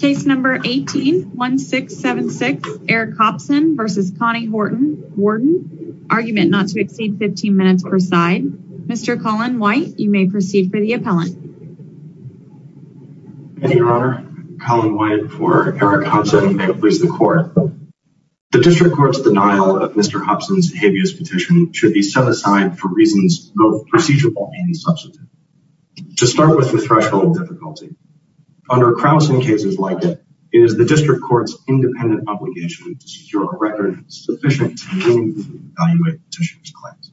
Case number 18-1676 Eric Hopson v. Connie Horton, Warden. Argument not to exceed 15 minutes per side. Mr. Colin White, you may proceed for the appellant. Thank you, Your Honor. Colin White for Eric Hopson, and may it please the Court. The District Court's denial of Mr. Hopson's habeas petition should be set aside for reasons both procedural and substantive. To start with the threshold difficulty, under Krausen cases like it, it is the District Court's independent obligation to secure a record sufficient to meaningfully evaluate the petitioner's claims.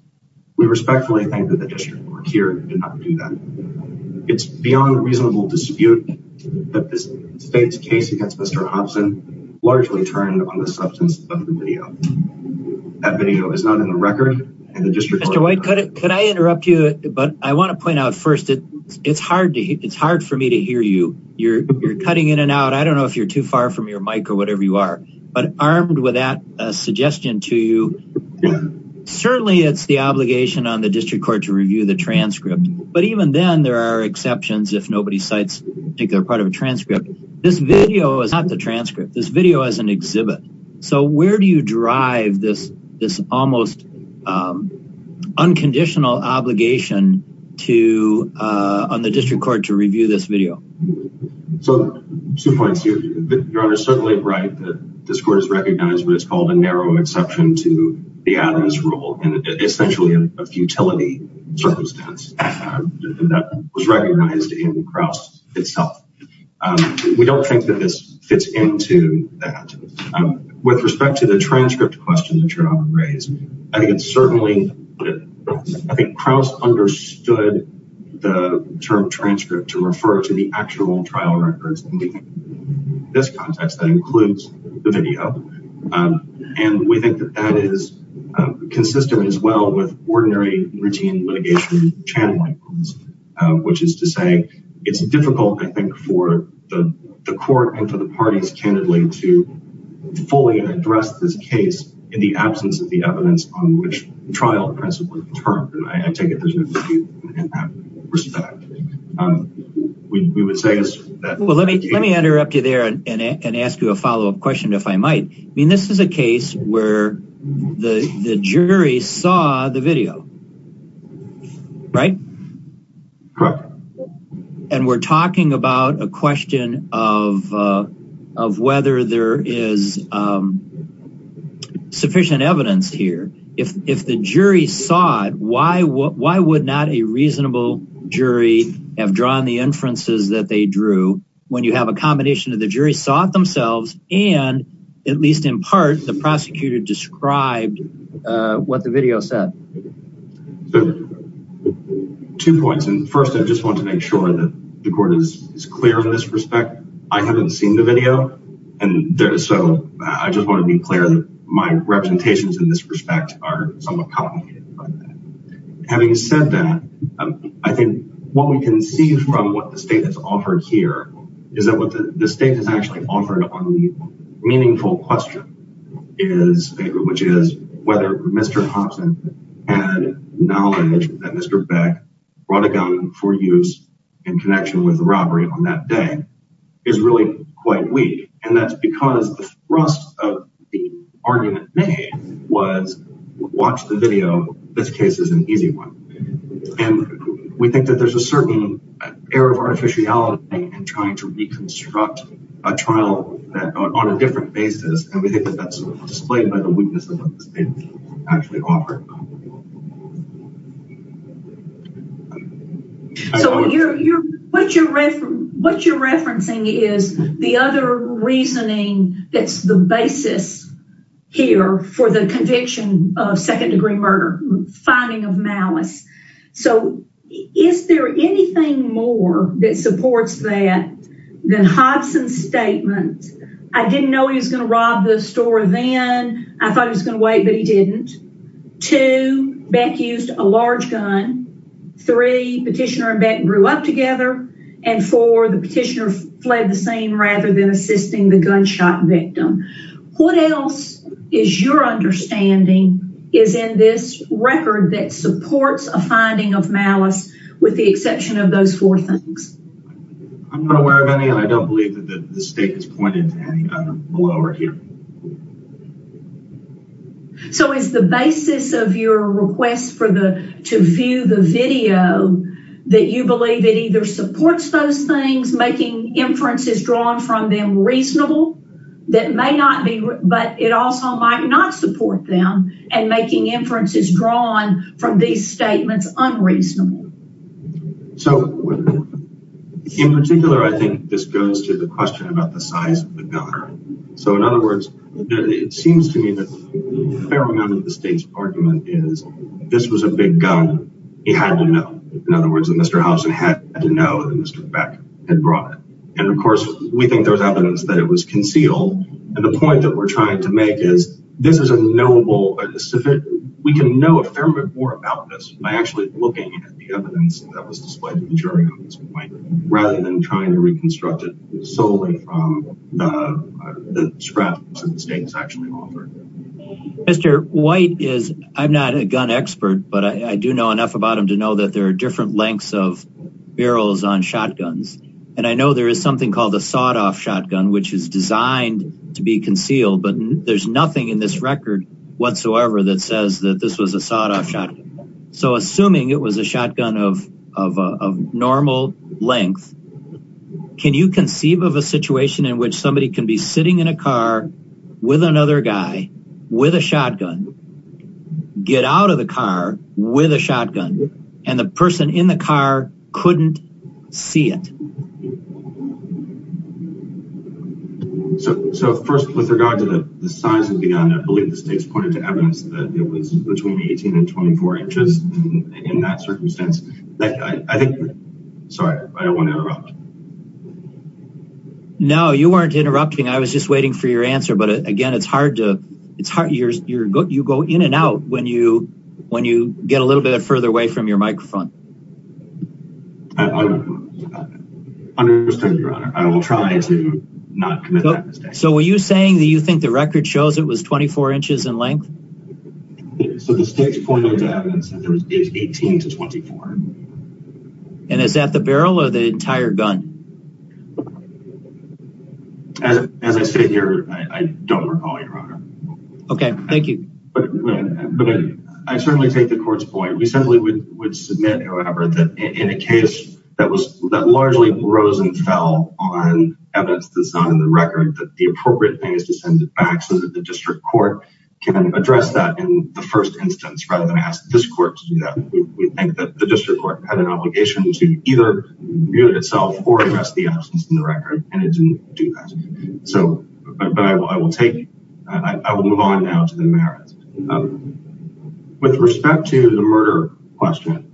We respectfully think that the District Court here did not do that. It's beyond reasonable dispute that this faked case against Mr. Hopson largely turned on the substance of the video. That video is not in the record, and the District Court— Mr. White, could I interrupt you? But I want to point out first, it's hard for me to hear you. You're cutting in and out. I don't know if you're too far from your mic or whatever you are. But armed with that suggestion to you, certainly it's the obligation on the District Court to review the transcript. But even then, there are exceptions if nobody cites a particular part of a transcript. This video is not the transcript. This video is an exhibit. So where do you drive this almost unconditional obligation on the District Court to review this video? So, two points here. Your Honor is certainly right that this Court has recognized what is called a narrow exception to the Adams rule, and essentially a futility circumstance that was recognized in Kraus itself. We don't think that this fits into that. With respect to the transcript question that you're going to raise, I think Kraus understood the term transcript to refer to the actual trial records. In this context, that includes the video. And we think that that is consistent as well with ordinary routine litigation channeling, which is to say it's difficult, I think, for the Court and for the parties, candidly, to fully address this case in the absence of the evidence on which the trial principle was termed. And I take it there's no dispute in that respect. We would say that... Well, let me interrupt you there and ask you a follow-up question, if I might. I mean, this is a case where the jury saw the video, right? Correct. And we're talking about a question of whether there is sufficient evidence here. If the jury saw it, why would not a reasonable jury have drawn the inferences that they drew when you have a combination of the jury saw it themselves and, at least in part, the prosecutor described what the video said? Two points. First, I just want to make sure that the Court is clear in this respect. I haven't seen the video, so I just want to be clear that my representations in this respect are somewhat complicated. Having said that, I think what we can see from what the State has offered here is that what the State has actually offered on the meaningful question, which is whether Mr. Hobson had knowledge that Mr. Beck brought a gun for use in connection with the robbery on that day, is really quite weak. And that's because the thrust of the argument made was, watch the video. This case is an easy one. And we think that there's a certain air of artificiality in trying to reconstruct a trial on a different basis. And we think that's displayed by the weakness of what the State actually offered. So what you're referencing is the other reasoning that's the basis here for the conviction of second-degree murder, finding of malice. So is there anything more that supports that than Hobson's statement, I didn't know he was going to rob the store then. I thought he was going to wait, but he didn't. Two, Beck used a large gun. Three, Petitioner and Beck grew up together. And four, the Petitioner fled the scene rather than assisting the gunshot victim. What else is your understanding is in this record that supports a finding of malice with the exception of those four things? I'm not aware of any, and I don't believe that the State has pointed to any other below or here. So is the basis of your request to view the video that you believe it either supports those things, making inferences drawn from them reasonable, but it also might not support them, and making inferences drawn from these statements unreasonable? So in particular, I think this goes to the question about the size of the gun. So in other words, it seems to me that a fair amount of the State's argument is this was a big gun. He had to know. In other words, Mr. Hobson had to know that Mr. Beck had brought it. And of course, we think there's evidence that it was concealed. And the point that we're trying to make is this is a knowable, we can know a fair bit more about this by actually looking at the evidence that was displayed in the jury at this point, rather than trying to reconstruct it solely from the scraps that the State has actually offered. Mr. White is, I'm not a gun expert, but I do know enough about him to know that there are different lengths of barrels on shotguns. And I know there is something called a sawed-off shotgun, which is designed to be concealed, but there's nothing in this record whatsoever that says that this was a sawed-off shotgun. So assuming it was a shotgun of normal length, can you conceive of a situation in which somebody can be sitting in a car with another guy with a shotgun, get out of the car with a shotgun, and the person in the car couldn't see it? So first, with regard to the size of the gun, I believe the State's pointed to evidence that it was between 18 and 24 inches in that circumstance. I think, sorry, I don't want to interrupt. No, you weren't interrupting. I was just waiting for your answer. But again, it's hard to, you go in and out when you get a little bit further away from your microphone. I understand, Your Honor. I will try to not commit that mistake. So were you saying that you think the record shows it was 24 inches in length? So the State's pointed to evidence that it was 18 to 24. And is that the barrel or the entire gun? As I sit here, I don't recall, Your Honor. Okay, thank you. But I certainly take the Court's point. We simply would submit, however, that in a case that largely rose and fell on evidence that's not in the record, that the appropriate thing is to send it back so that the district court can address that in the first instance, rather than ask this court to do that. We think that the district court had an obligation to either mute itself or address the absence in the record, and it didn't do that. But I will move on now to the merits. With respect to the murder question,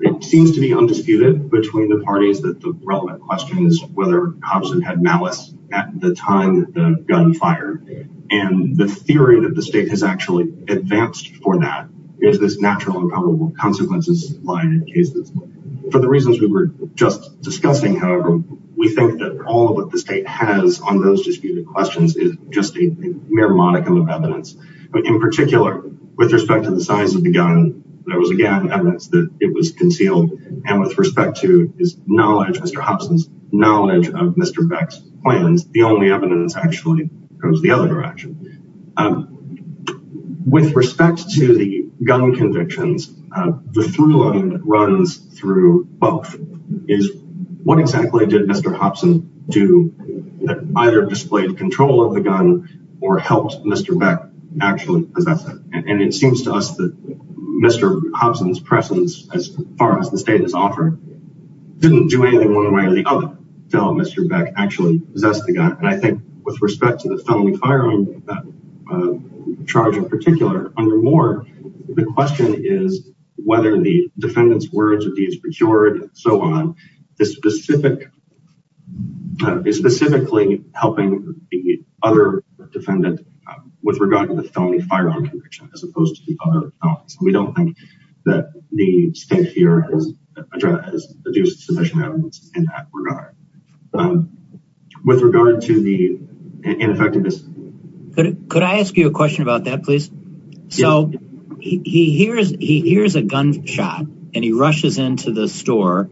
it seems to be undisputed between the parties that the relevant question is whether Hobson had malice at the time the gun fired. And the theory that the State has actually advanced for that is this natural and probable consequences line in cases. For the reasons we were just discussing, however, we think that all that the State has on those disputed questions is just a mere modicum of evidence. In particular, with respect to the size of the gun, there was, again, evidence that it was concealed. And with respect to his knowledge, Mr. Hobson's knowledge of Mr. Beck's plans, the only evidence actually goes the other direction. With respect to the gun convictions, the through-line runs through both. What exactly did Mr. Hobson do that either displayed control of the gun or helped Mr. Beck actually possess it? And it seems to us that Mr. Hobson's presence, as far as the State has offered, didn't do anything one way or the other to help Mr. Beck actually possess the gun. And I think with respect to the felony firearm charge in particular, the question is whether the defendant's words or deeds procured, and so on, is specifically helping the other defendant with regard to the felony firearm conviction as opposed to the other. We don't think that the State here has produced sufficient evidence in that regard. With regard to the ineffectiveness. Could I ask you a question about that, please? So he hears a gunshot, and he rushes into the store.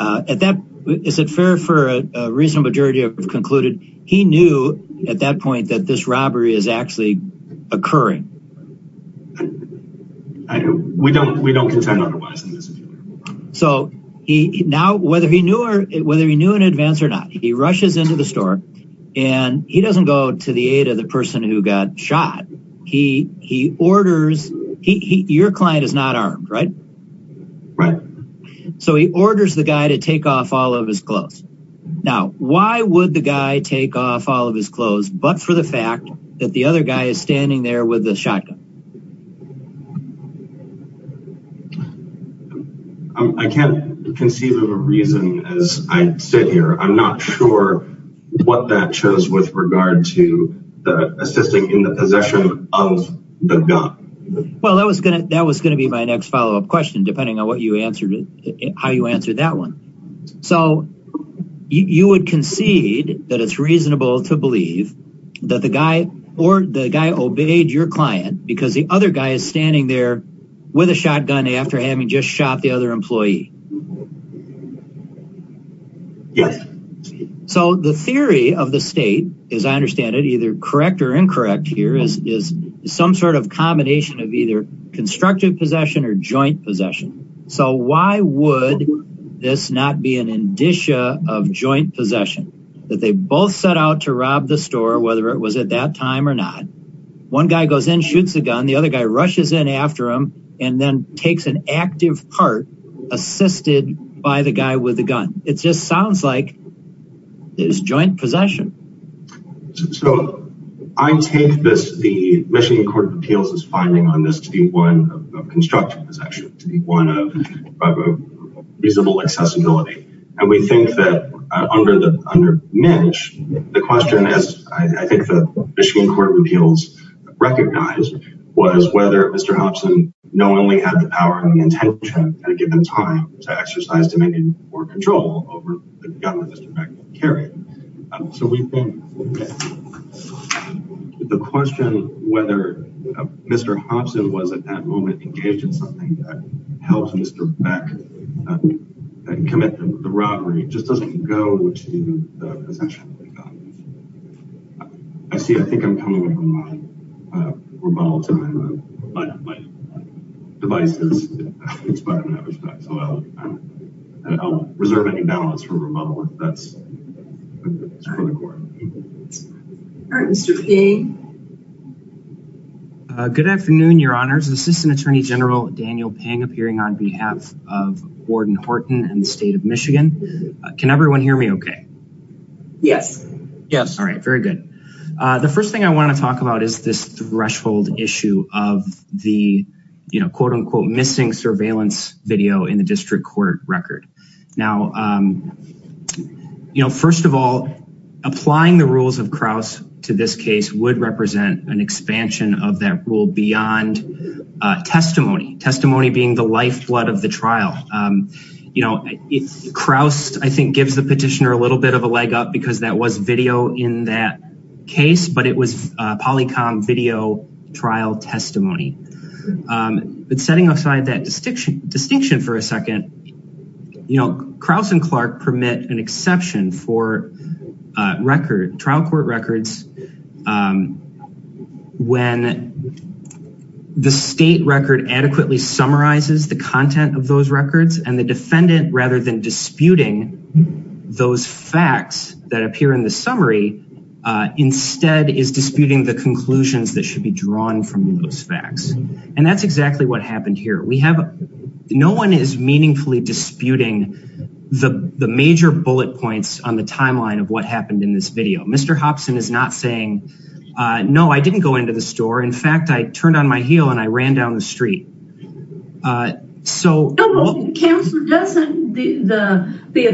Is it fair for a reasonable jury to have concluded he knew at that point that this robbery is actually occurring? We don't contend otherwise. So now whether he knew in advance or not, he rushes into the store, and he doesn't go to the aid of the person who got shot. He orders, your client is not armed, right? Right. So he orders the guy to take off all of his clothes. Now, why would the guy take off all of his clothes but for the fact that the other guy is standing there with a shotgun? I can't conceive of a reason as I sit here. I'm not sure what that shows with regard to the assisting in the possession of the gun. Well, that was going to be my next follow-up question, depending on how you answered that one. So you would concede that it's reasonable to believe that the guy or the guy obeyed your client because the other guy is standing there with a shotgun after having just shot the other employee? Yes. So the theory of the state, as I understand it, either correct or incorrect here, is some sort of combination of either constructive possession or joint possession. So why would this not be an indicia of joint possession, that they both set out to rob the store, whether it was at that time or not. One guy goes in, shoots the gun. The other guy rushes in after him and then takes an active part assisted by the guy with the gun. It just sounds like there's joint possession. So I take the Michigan Court of Appeals' finding on this to be one of constructive possession, to be one of reasonable accessibility. And we think that under Mitch, the question, as I think the Michigan Court of Appeals recognized, was whether Mr. Hobson knowingly had the power and the intention at a given time to exercise dominion or control over the gun that Mr. Beckman carried. So we think the question whether Mr. Hobson was, at that moment, engaged in something that helped Mr. Beck commit the robbery just doesn't go to the possession of the gun. I see, I think I'm coming from my remodeling time. My device is expired, so I'll reserve any balance for remodeling. That's for the court. All right, Mr. Ping. Good afternoon, Your Honors. Assistant Attorney General Daniel Ping appearing on behalf of Gordon Horton and the State of Michigan. Can everyone hear me okay? Yes. Yes. All right, very good. The first thing I want to talk about is this threshold issue of the, quote, unquote, missing surveillance video in the district court record. Now, you know, first of all, applying the rules of Crouse to this case would represent an expansion of that rule beyond testimony. Testimony being the lifeblood of the trial. You know, Crouse, I think, gives the petitioner a little bit of a leg up because that was video in that case, but it was polycom video trial testimony. But setting aside that distinction for a second, you know, Crouse and Clark permit an exception for trial court records when the state record adequately summarizes the content of those records and the defendant, rather than disputing those facts that appear in the summary, instead is disputing the conclusions that should be drawn from those facts. And that's exactly what happened here. We have no one is meaningfully disputing the major bullet points on the timeline of what happened in this video. Mr. Hopson is not saying, no, I didn't go into the store. In fact, I turned on my heel and I ran down the street. So, the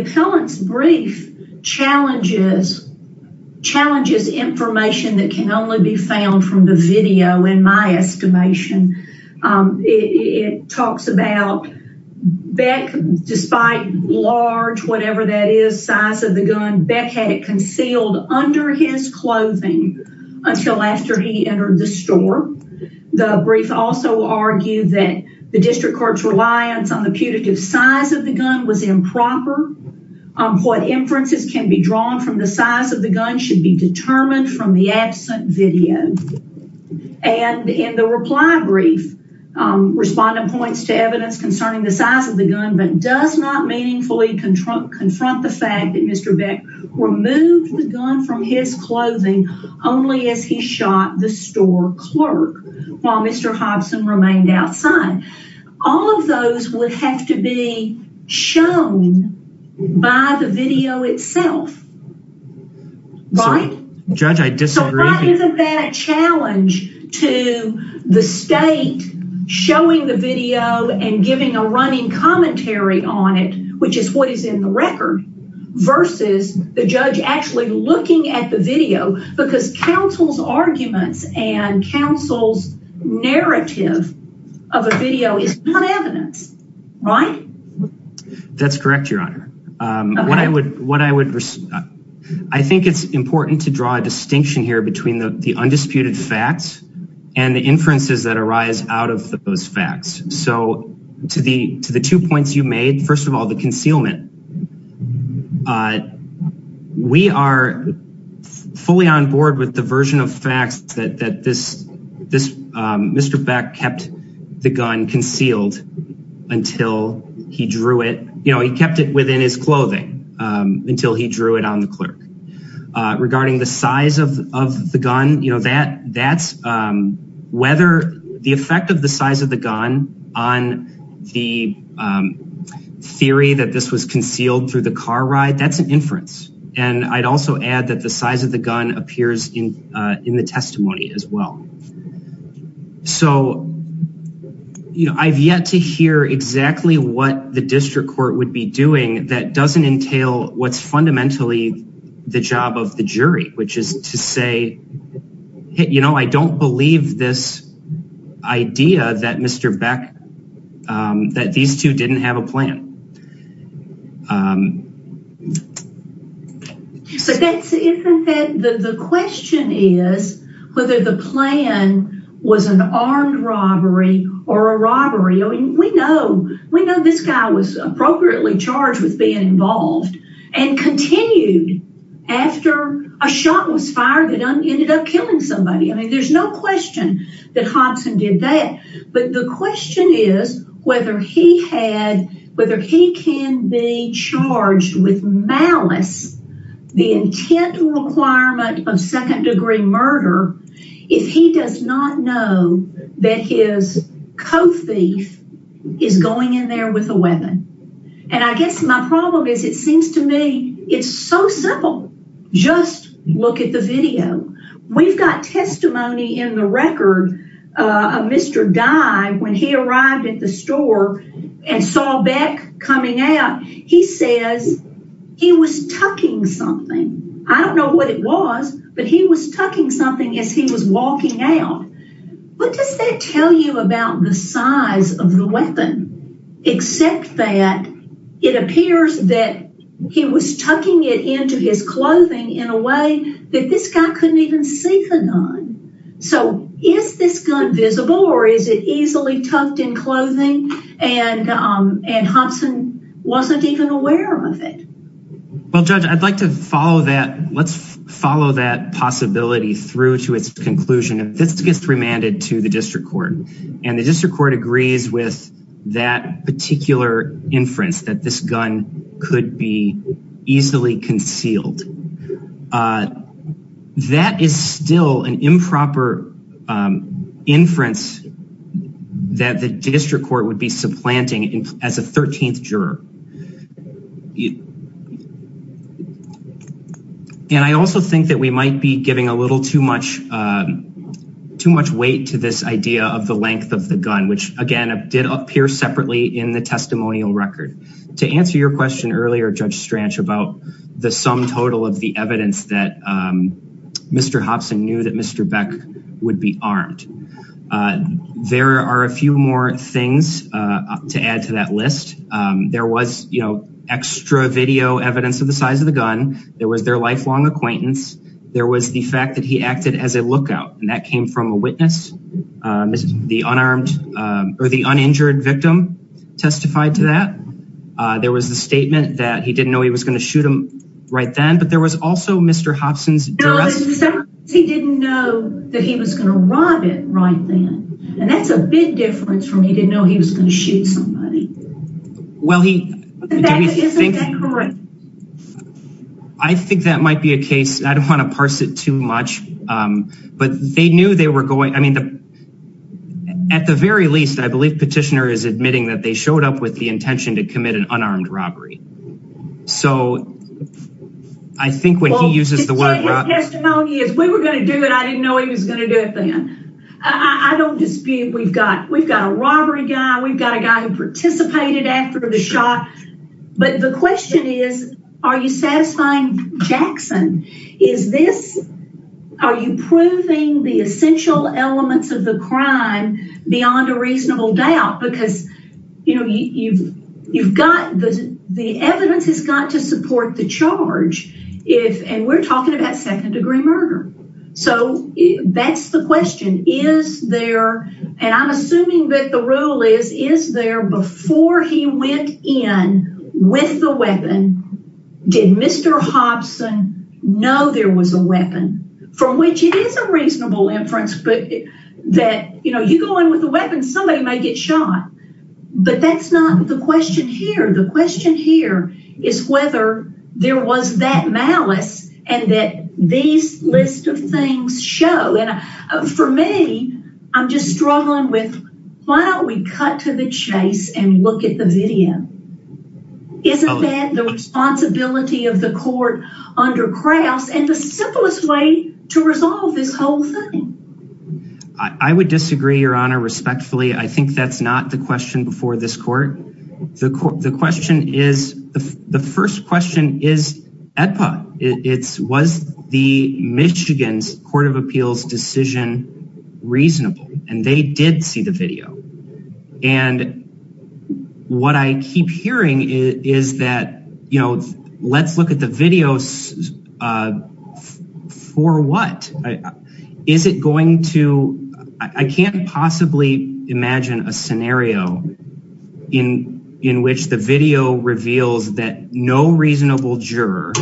appellant's brief challenges information that can only be found from the video, in my estimation. It talks about Beck, despite large, whatever that is, size of the gun, Beck had it concealed under his clothing until after he entered the store. The brief also argued that the district court's reliance on the putative size of the gun was improper. What inferences can be drawn from the size of the gun should be determined from the absent video. And in the reply brief, respondent points to evidence concerning the size of the gun, but does not meaningfully confront the fact that Mr. Beck removed the gun from his clothing only as he shot the store clerk, while Mr. Hopson remained outside. All of those would have to be shown by the video itself. Right? Judge, I disagree. Isn't that a challenge to the state showing the video and giving a running commentary on it, which is what is in the record, versus the judge actually looking at the video, because counsel's arguments and counsel's narrative of a video is not evidence, right? That's correct, Your Honor. I think it's important to draw a distinction here between the undisputed facts and the inferences that arise out of those facts. So to the two points you made, first of all, the concealment. We are fully on board with the version of facts that Mr. Beck kept the gun concealed until he drew it. He kept it within his clothing until he drew it on the clerk. Regarding the size of the gun, the effect of the size of the gun on the theory that this was concealed through the car ride, that's an inference. And I'd also add that the size of the gun appears in the testimony as well. So I've yet to hear exactly what the district court would be doing that doesn't entail what's fundamentally the job of the jury, which is to say, you know, I don't believe this idea that Mr. Beck, that these two didn't have a plan. So the question is whether the plan was an armed robbery or a robbery. We know this guy was appropriately charged with being involved and continued after a shot was fired that ended up killing somebody. I mean, there's no question that Hobson did that. But the question is whether he can be charged with malice, the intent requirement of second degree murder, if he does not know that his co-thief is going in there with a weapon. And I guess my problem is it seems to me it's so simple. Just look at the video. We've got testimony in the record of Mr. Dye when he arrived at the store and saw Beck coming out. He says he was tucking something. I don't know what it was, but he was tucking something as he was walking out. What does that tell you about the size of the weapon? Except that it appears that he was tucking it into his clothing in a way that this guy couldn't even see the gun. So is this gun visible or is it easily tucked in clothing? And and Hobson wasn't even aware of it. Well, Judge, I'd like to follow that. Let's follow that possibility through to its conclusion. This gets remanded to the district court and the district court agrees with that particular inference that this gun could be easily concealed. That is still an improper inference that the district court would be supplanting as a 13th juror. And I also think that we might be giving a little too much too much weight to this idea of the length of the gun, which, again, did appear separately in the testimonial record. To answer your question earlier, Judge Strange, about the sum total of the evidence that Mr. Hobson knew that Mr. Beck would be armed. There are a few more things to add to that list. There was, you know, extra video evidence of the size of the gun. There was their lifelong acquaintance. There was the fact that he acted as a lookout and that came from a witness. The unarmed or the uninjured victim testified to that. There was a statement that he didn't know he was going to shoot him right then. But there was also Mr. Hobson's. He didn't know that he was going to rob it right then. And that's a big difference from he didn't know he was going to shoot somebody. Well, I think that might be a case. I don't want to parse it too much, but they knew they were going. I mean, at the very least, I believe Petitioner is admitting that they showed up with the intention to commit an unarmed robbery. So I think when he uses the word. We were going to do it. I didn't know he was going to do it then. I don't dispute we've got we've got a robbery guy. We've got a guy who participated after the shot. But the question is, are you satisfying Jackson? Is this are you proving the essential elements of the crime beyond a reasonable doubt? Because, you know, you've you've got the the evidence has got to support the charge. If and we're talking about second degree murder. So that's the question. Is there and I'm assuming that the rule is, is there before he went in with the weapon? Did Mr. Hobson know there was a weapon from which it is a reasonable inference? But that, you know, you go in with a weapon, somebody may get shot. But that's not the question here. The question here is whether there was that malice and that these list of things show. And for me, I'm just struggling with why don't we cut to the chase and look at the video? Isn't that the responsibility of the court under Krauss and the simplest way to resolve this whole thing? I would disagree, Your Honor, respectfully. I think that's not the question before this court. The question is the first question is it's was the Michigan's Court of Appeals decision reasonable? And they did see the video. And what I keep hearing is that, you know, let's look at the videos for what? Is it going to I can't possibly imagine a scenario in in which the video reveals that no reasonable juror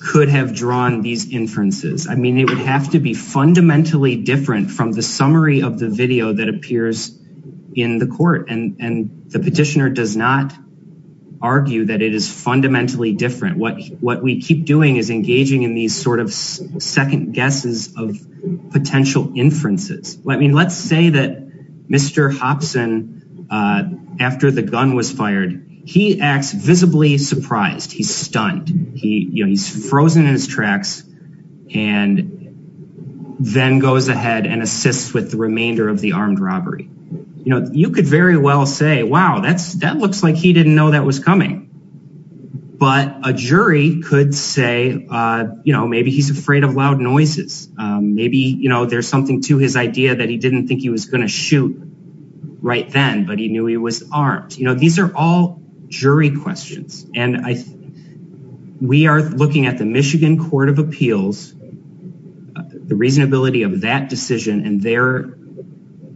could have drawn these inferences. I mean, it would have to be fundamentally different from the summary of the video that appears in the court. And the petitioner does not argue that it is fundamentally different. What what we keep doing is engaging in these sort of second guesses of potential inferences. I mean, let's say that Mr. Hopson, after the gun was fired, he acts visibly surprised. He's stunned. He's frozen in his tracks and then goes ahead and assists with the remainder of the armed robbery. You know, you could very well say, wow, that's that looks like he didn't know that was coming. But a jury could say, you know, maybe he's afraid of loud noises. Maybe, you know, there's something to his idea that he didn't think he was going to shoot right then, but he knew he was armed. You know, these are all jury questions. And we are looking at the Michigan Court of Appeals, the reasonability of that decision and their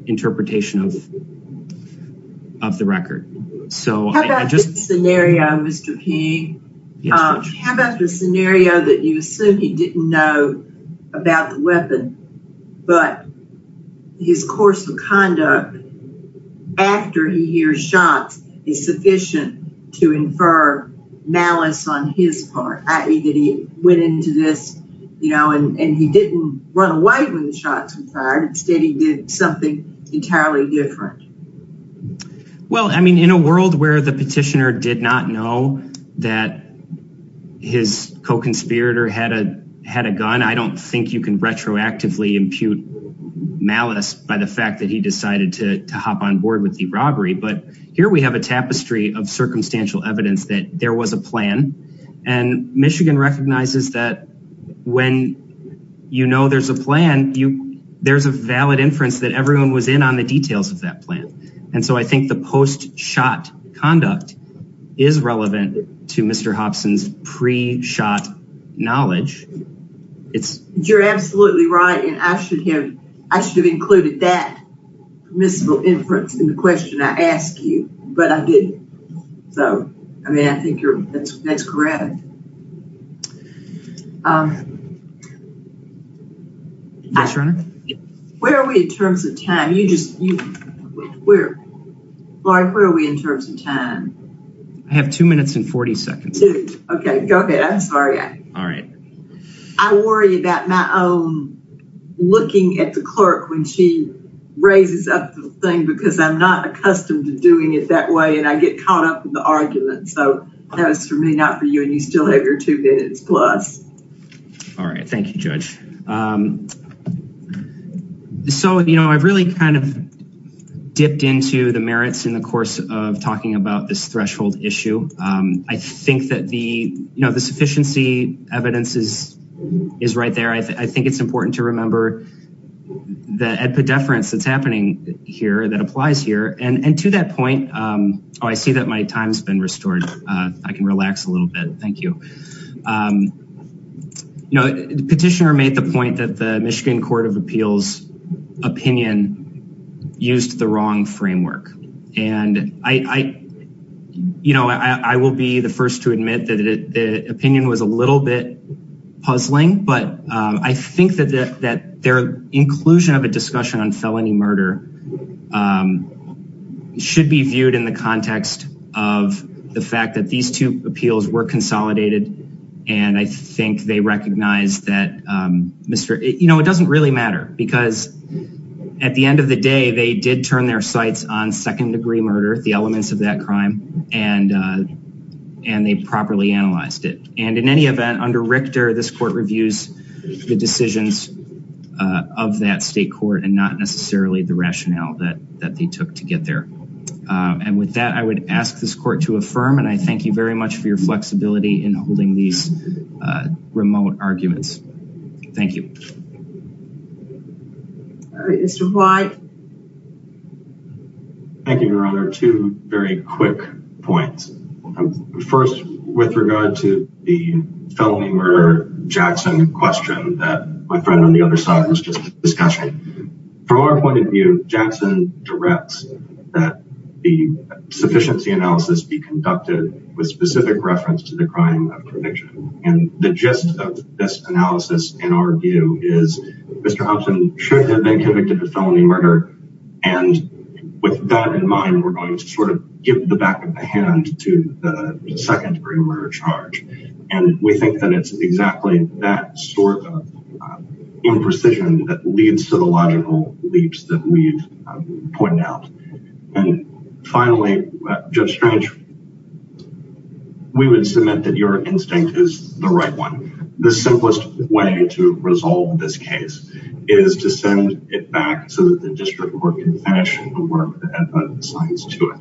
interpretation of the record. How about this scenario, Mr. King? How about the scenario that you assume he didn't know about the weapon, but his course of conduct after he hears shots is sufficient to infer malice on his part, i.e. that he went into this, you know, and he didn't run away when the shots were fired. Instead, he did something entirely different. Well, I mean, in a world where the petitioner did not know that his co-conspirator had a gun, I don't think you can retroactively impute malice by the fact that he decided to hop on board with the robbery. But here we have a tapestry of circumstantial evidence that there was a plan. And Michigan recognizes that when you know there's a plan, there's a valid inference that everyone was in on the details of that plan. And so I think the post-shot conduct is relevant to Mr. Hobson's pre-shot knowledge. You're absolutely right, and I should have included that permissible inference in the question I asked you, but I didn't. So, I mean, I think that's great. Where are we in terms of time? Laurie, where are we in terms of time? I have two minutes and 40 seconds. Okay, go ahead. I'm sorry. All right. I worry about my own looking at the clerk when she raises up the thing because I'm not accustomed to doing it that way and I get caught up in the argument. So that was for me, not for you, and you still have your two minutes plus. All right. Thank you, Judge. So, you know, I've really kind of dipped into the merits in the course of talking about this threshold issue. I think that the, you know, the sufficiency evidence is right there. I think it's important to remember the epidefference that's happening here, that applies here. And to that point, oh, I see that my time's been restored. I can relax a little bit. Thank you. You know, the petitioner made the point that the Michigan Court of Appeals opinion used the wrong framework. And I, you know, I will be the first to admit that the opinion was a little bit puzzling. But I think that their inclusion of a discussion on felony murder should be viewed in the context of the fact that these two appeals were consolidated. And I think they recognize that, you know, it doesn't really matter. Because at the end of the day, they did turn their sights on second-degree murder, the elements of that crime, and they properly analyzed it. And in any event, under Richter, this court reviews the decisions of that state court and not necessarily the rationale that they took to get there. And with that, I would ask this court to affirm. And I thank you very much for your flexibility in holding these remote arguments. Thank you. Mr. White. Thank you, Your Honor. Two very quick points. First, with regard to the felony murder Jackson question that my friend on the other side was just discussing. From our point of view, Jackson directs that the sufficiency analysis be conducted with specific reference to the crime of conviction. And the gist of this analysis, in our view, is Mr. Hobson should have been convicted of felony murder. And with that in mind, we're going to sort of give the back of the hand to the second-degree murder charge. And we think that it's exactly that sort of imprecision that leads to the logical leaps that we've pointed out. And finally, Judge Strange, we would submit that your instinct is the right one. The simplest way to resolve this case is to send it back so that the district court can finish the work that added science to it.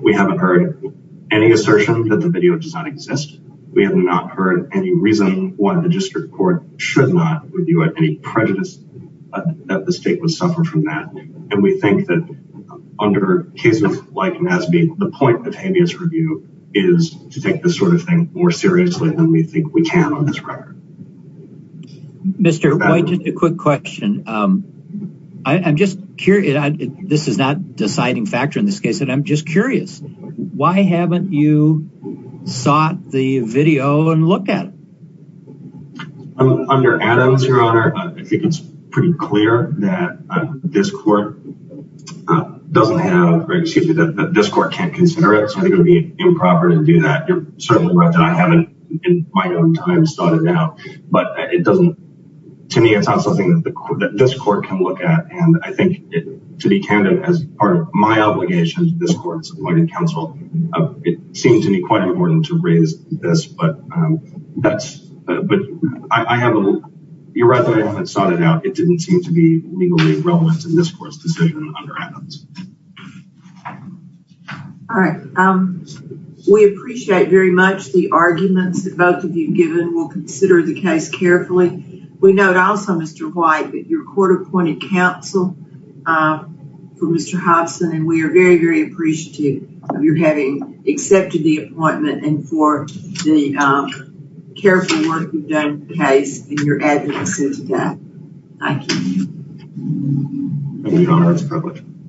We haven't heard any assertion that the video does not exist. We have not heard any reason why the district court should not review any prejudice that the state would suffer from that. And we think that under cases like NASB, the point of habeas review is to take this sort of thing more seriously than we think we can on this record. Mr. White, a quick question. I'm just curious. This is not deciding factor in this case, and I'm just curious. Why haven't you sought the video and looked at it? Under Adams, Your Honor, I think it's pretty clear that this court can't consider it. So I think it would be improper to do that. You're certainly right that I haven't in my own time sought it out. But to me, it's not something that this court can look at. And I think to be candid, as part of my obligation to this court's appointed counsel, it seems to me quite important to raise this. But you're right that I haven't sought it out. It didn't seem to be legally relevant in this court's decision under Adams. All right. We appreciate very much the arguments that both of you have given. We'll consider the case carefully. We note also, Mr. White, that your court appointed counsel for Mr. Hobson, and we are very, very appreciative of your having accepted the appointment and for the careful work you've done in the case and your advocacy today. Thank you. Thank you, Your Honor.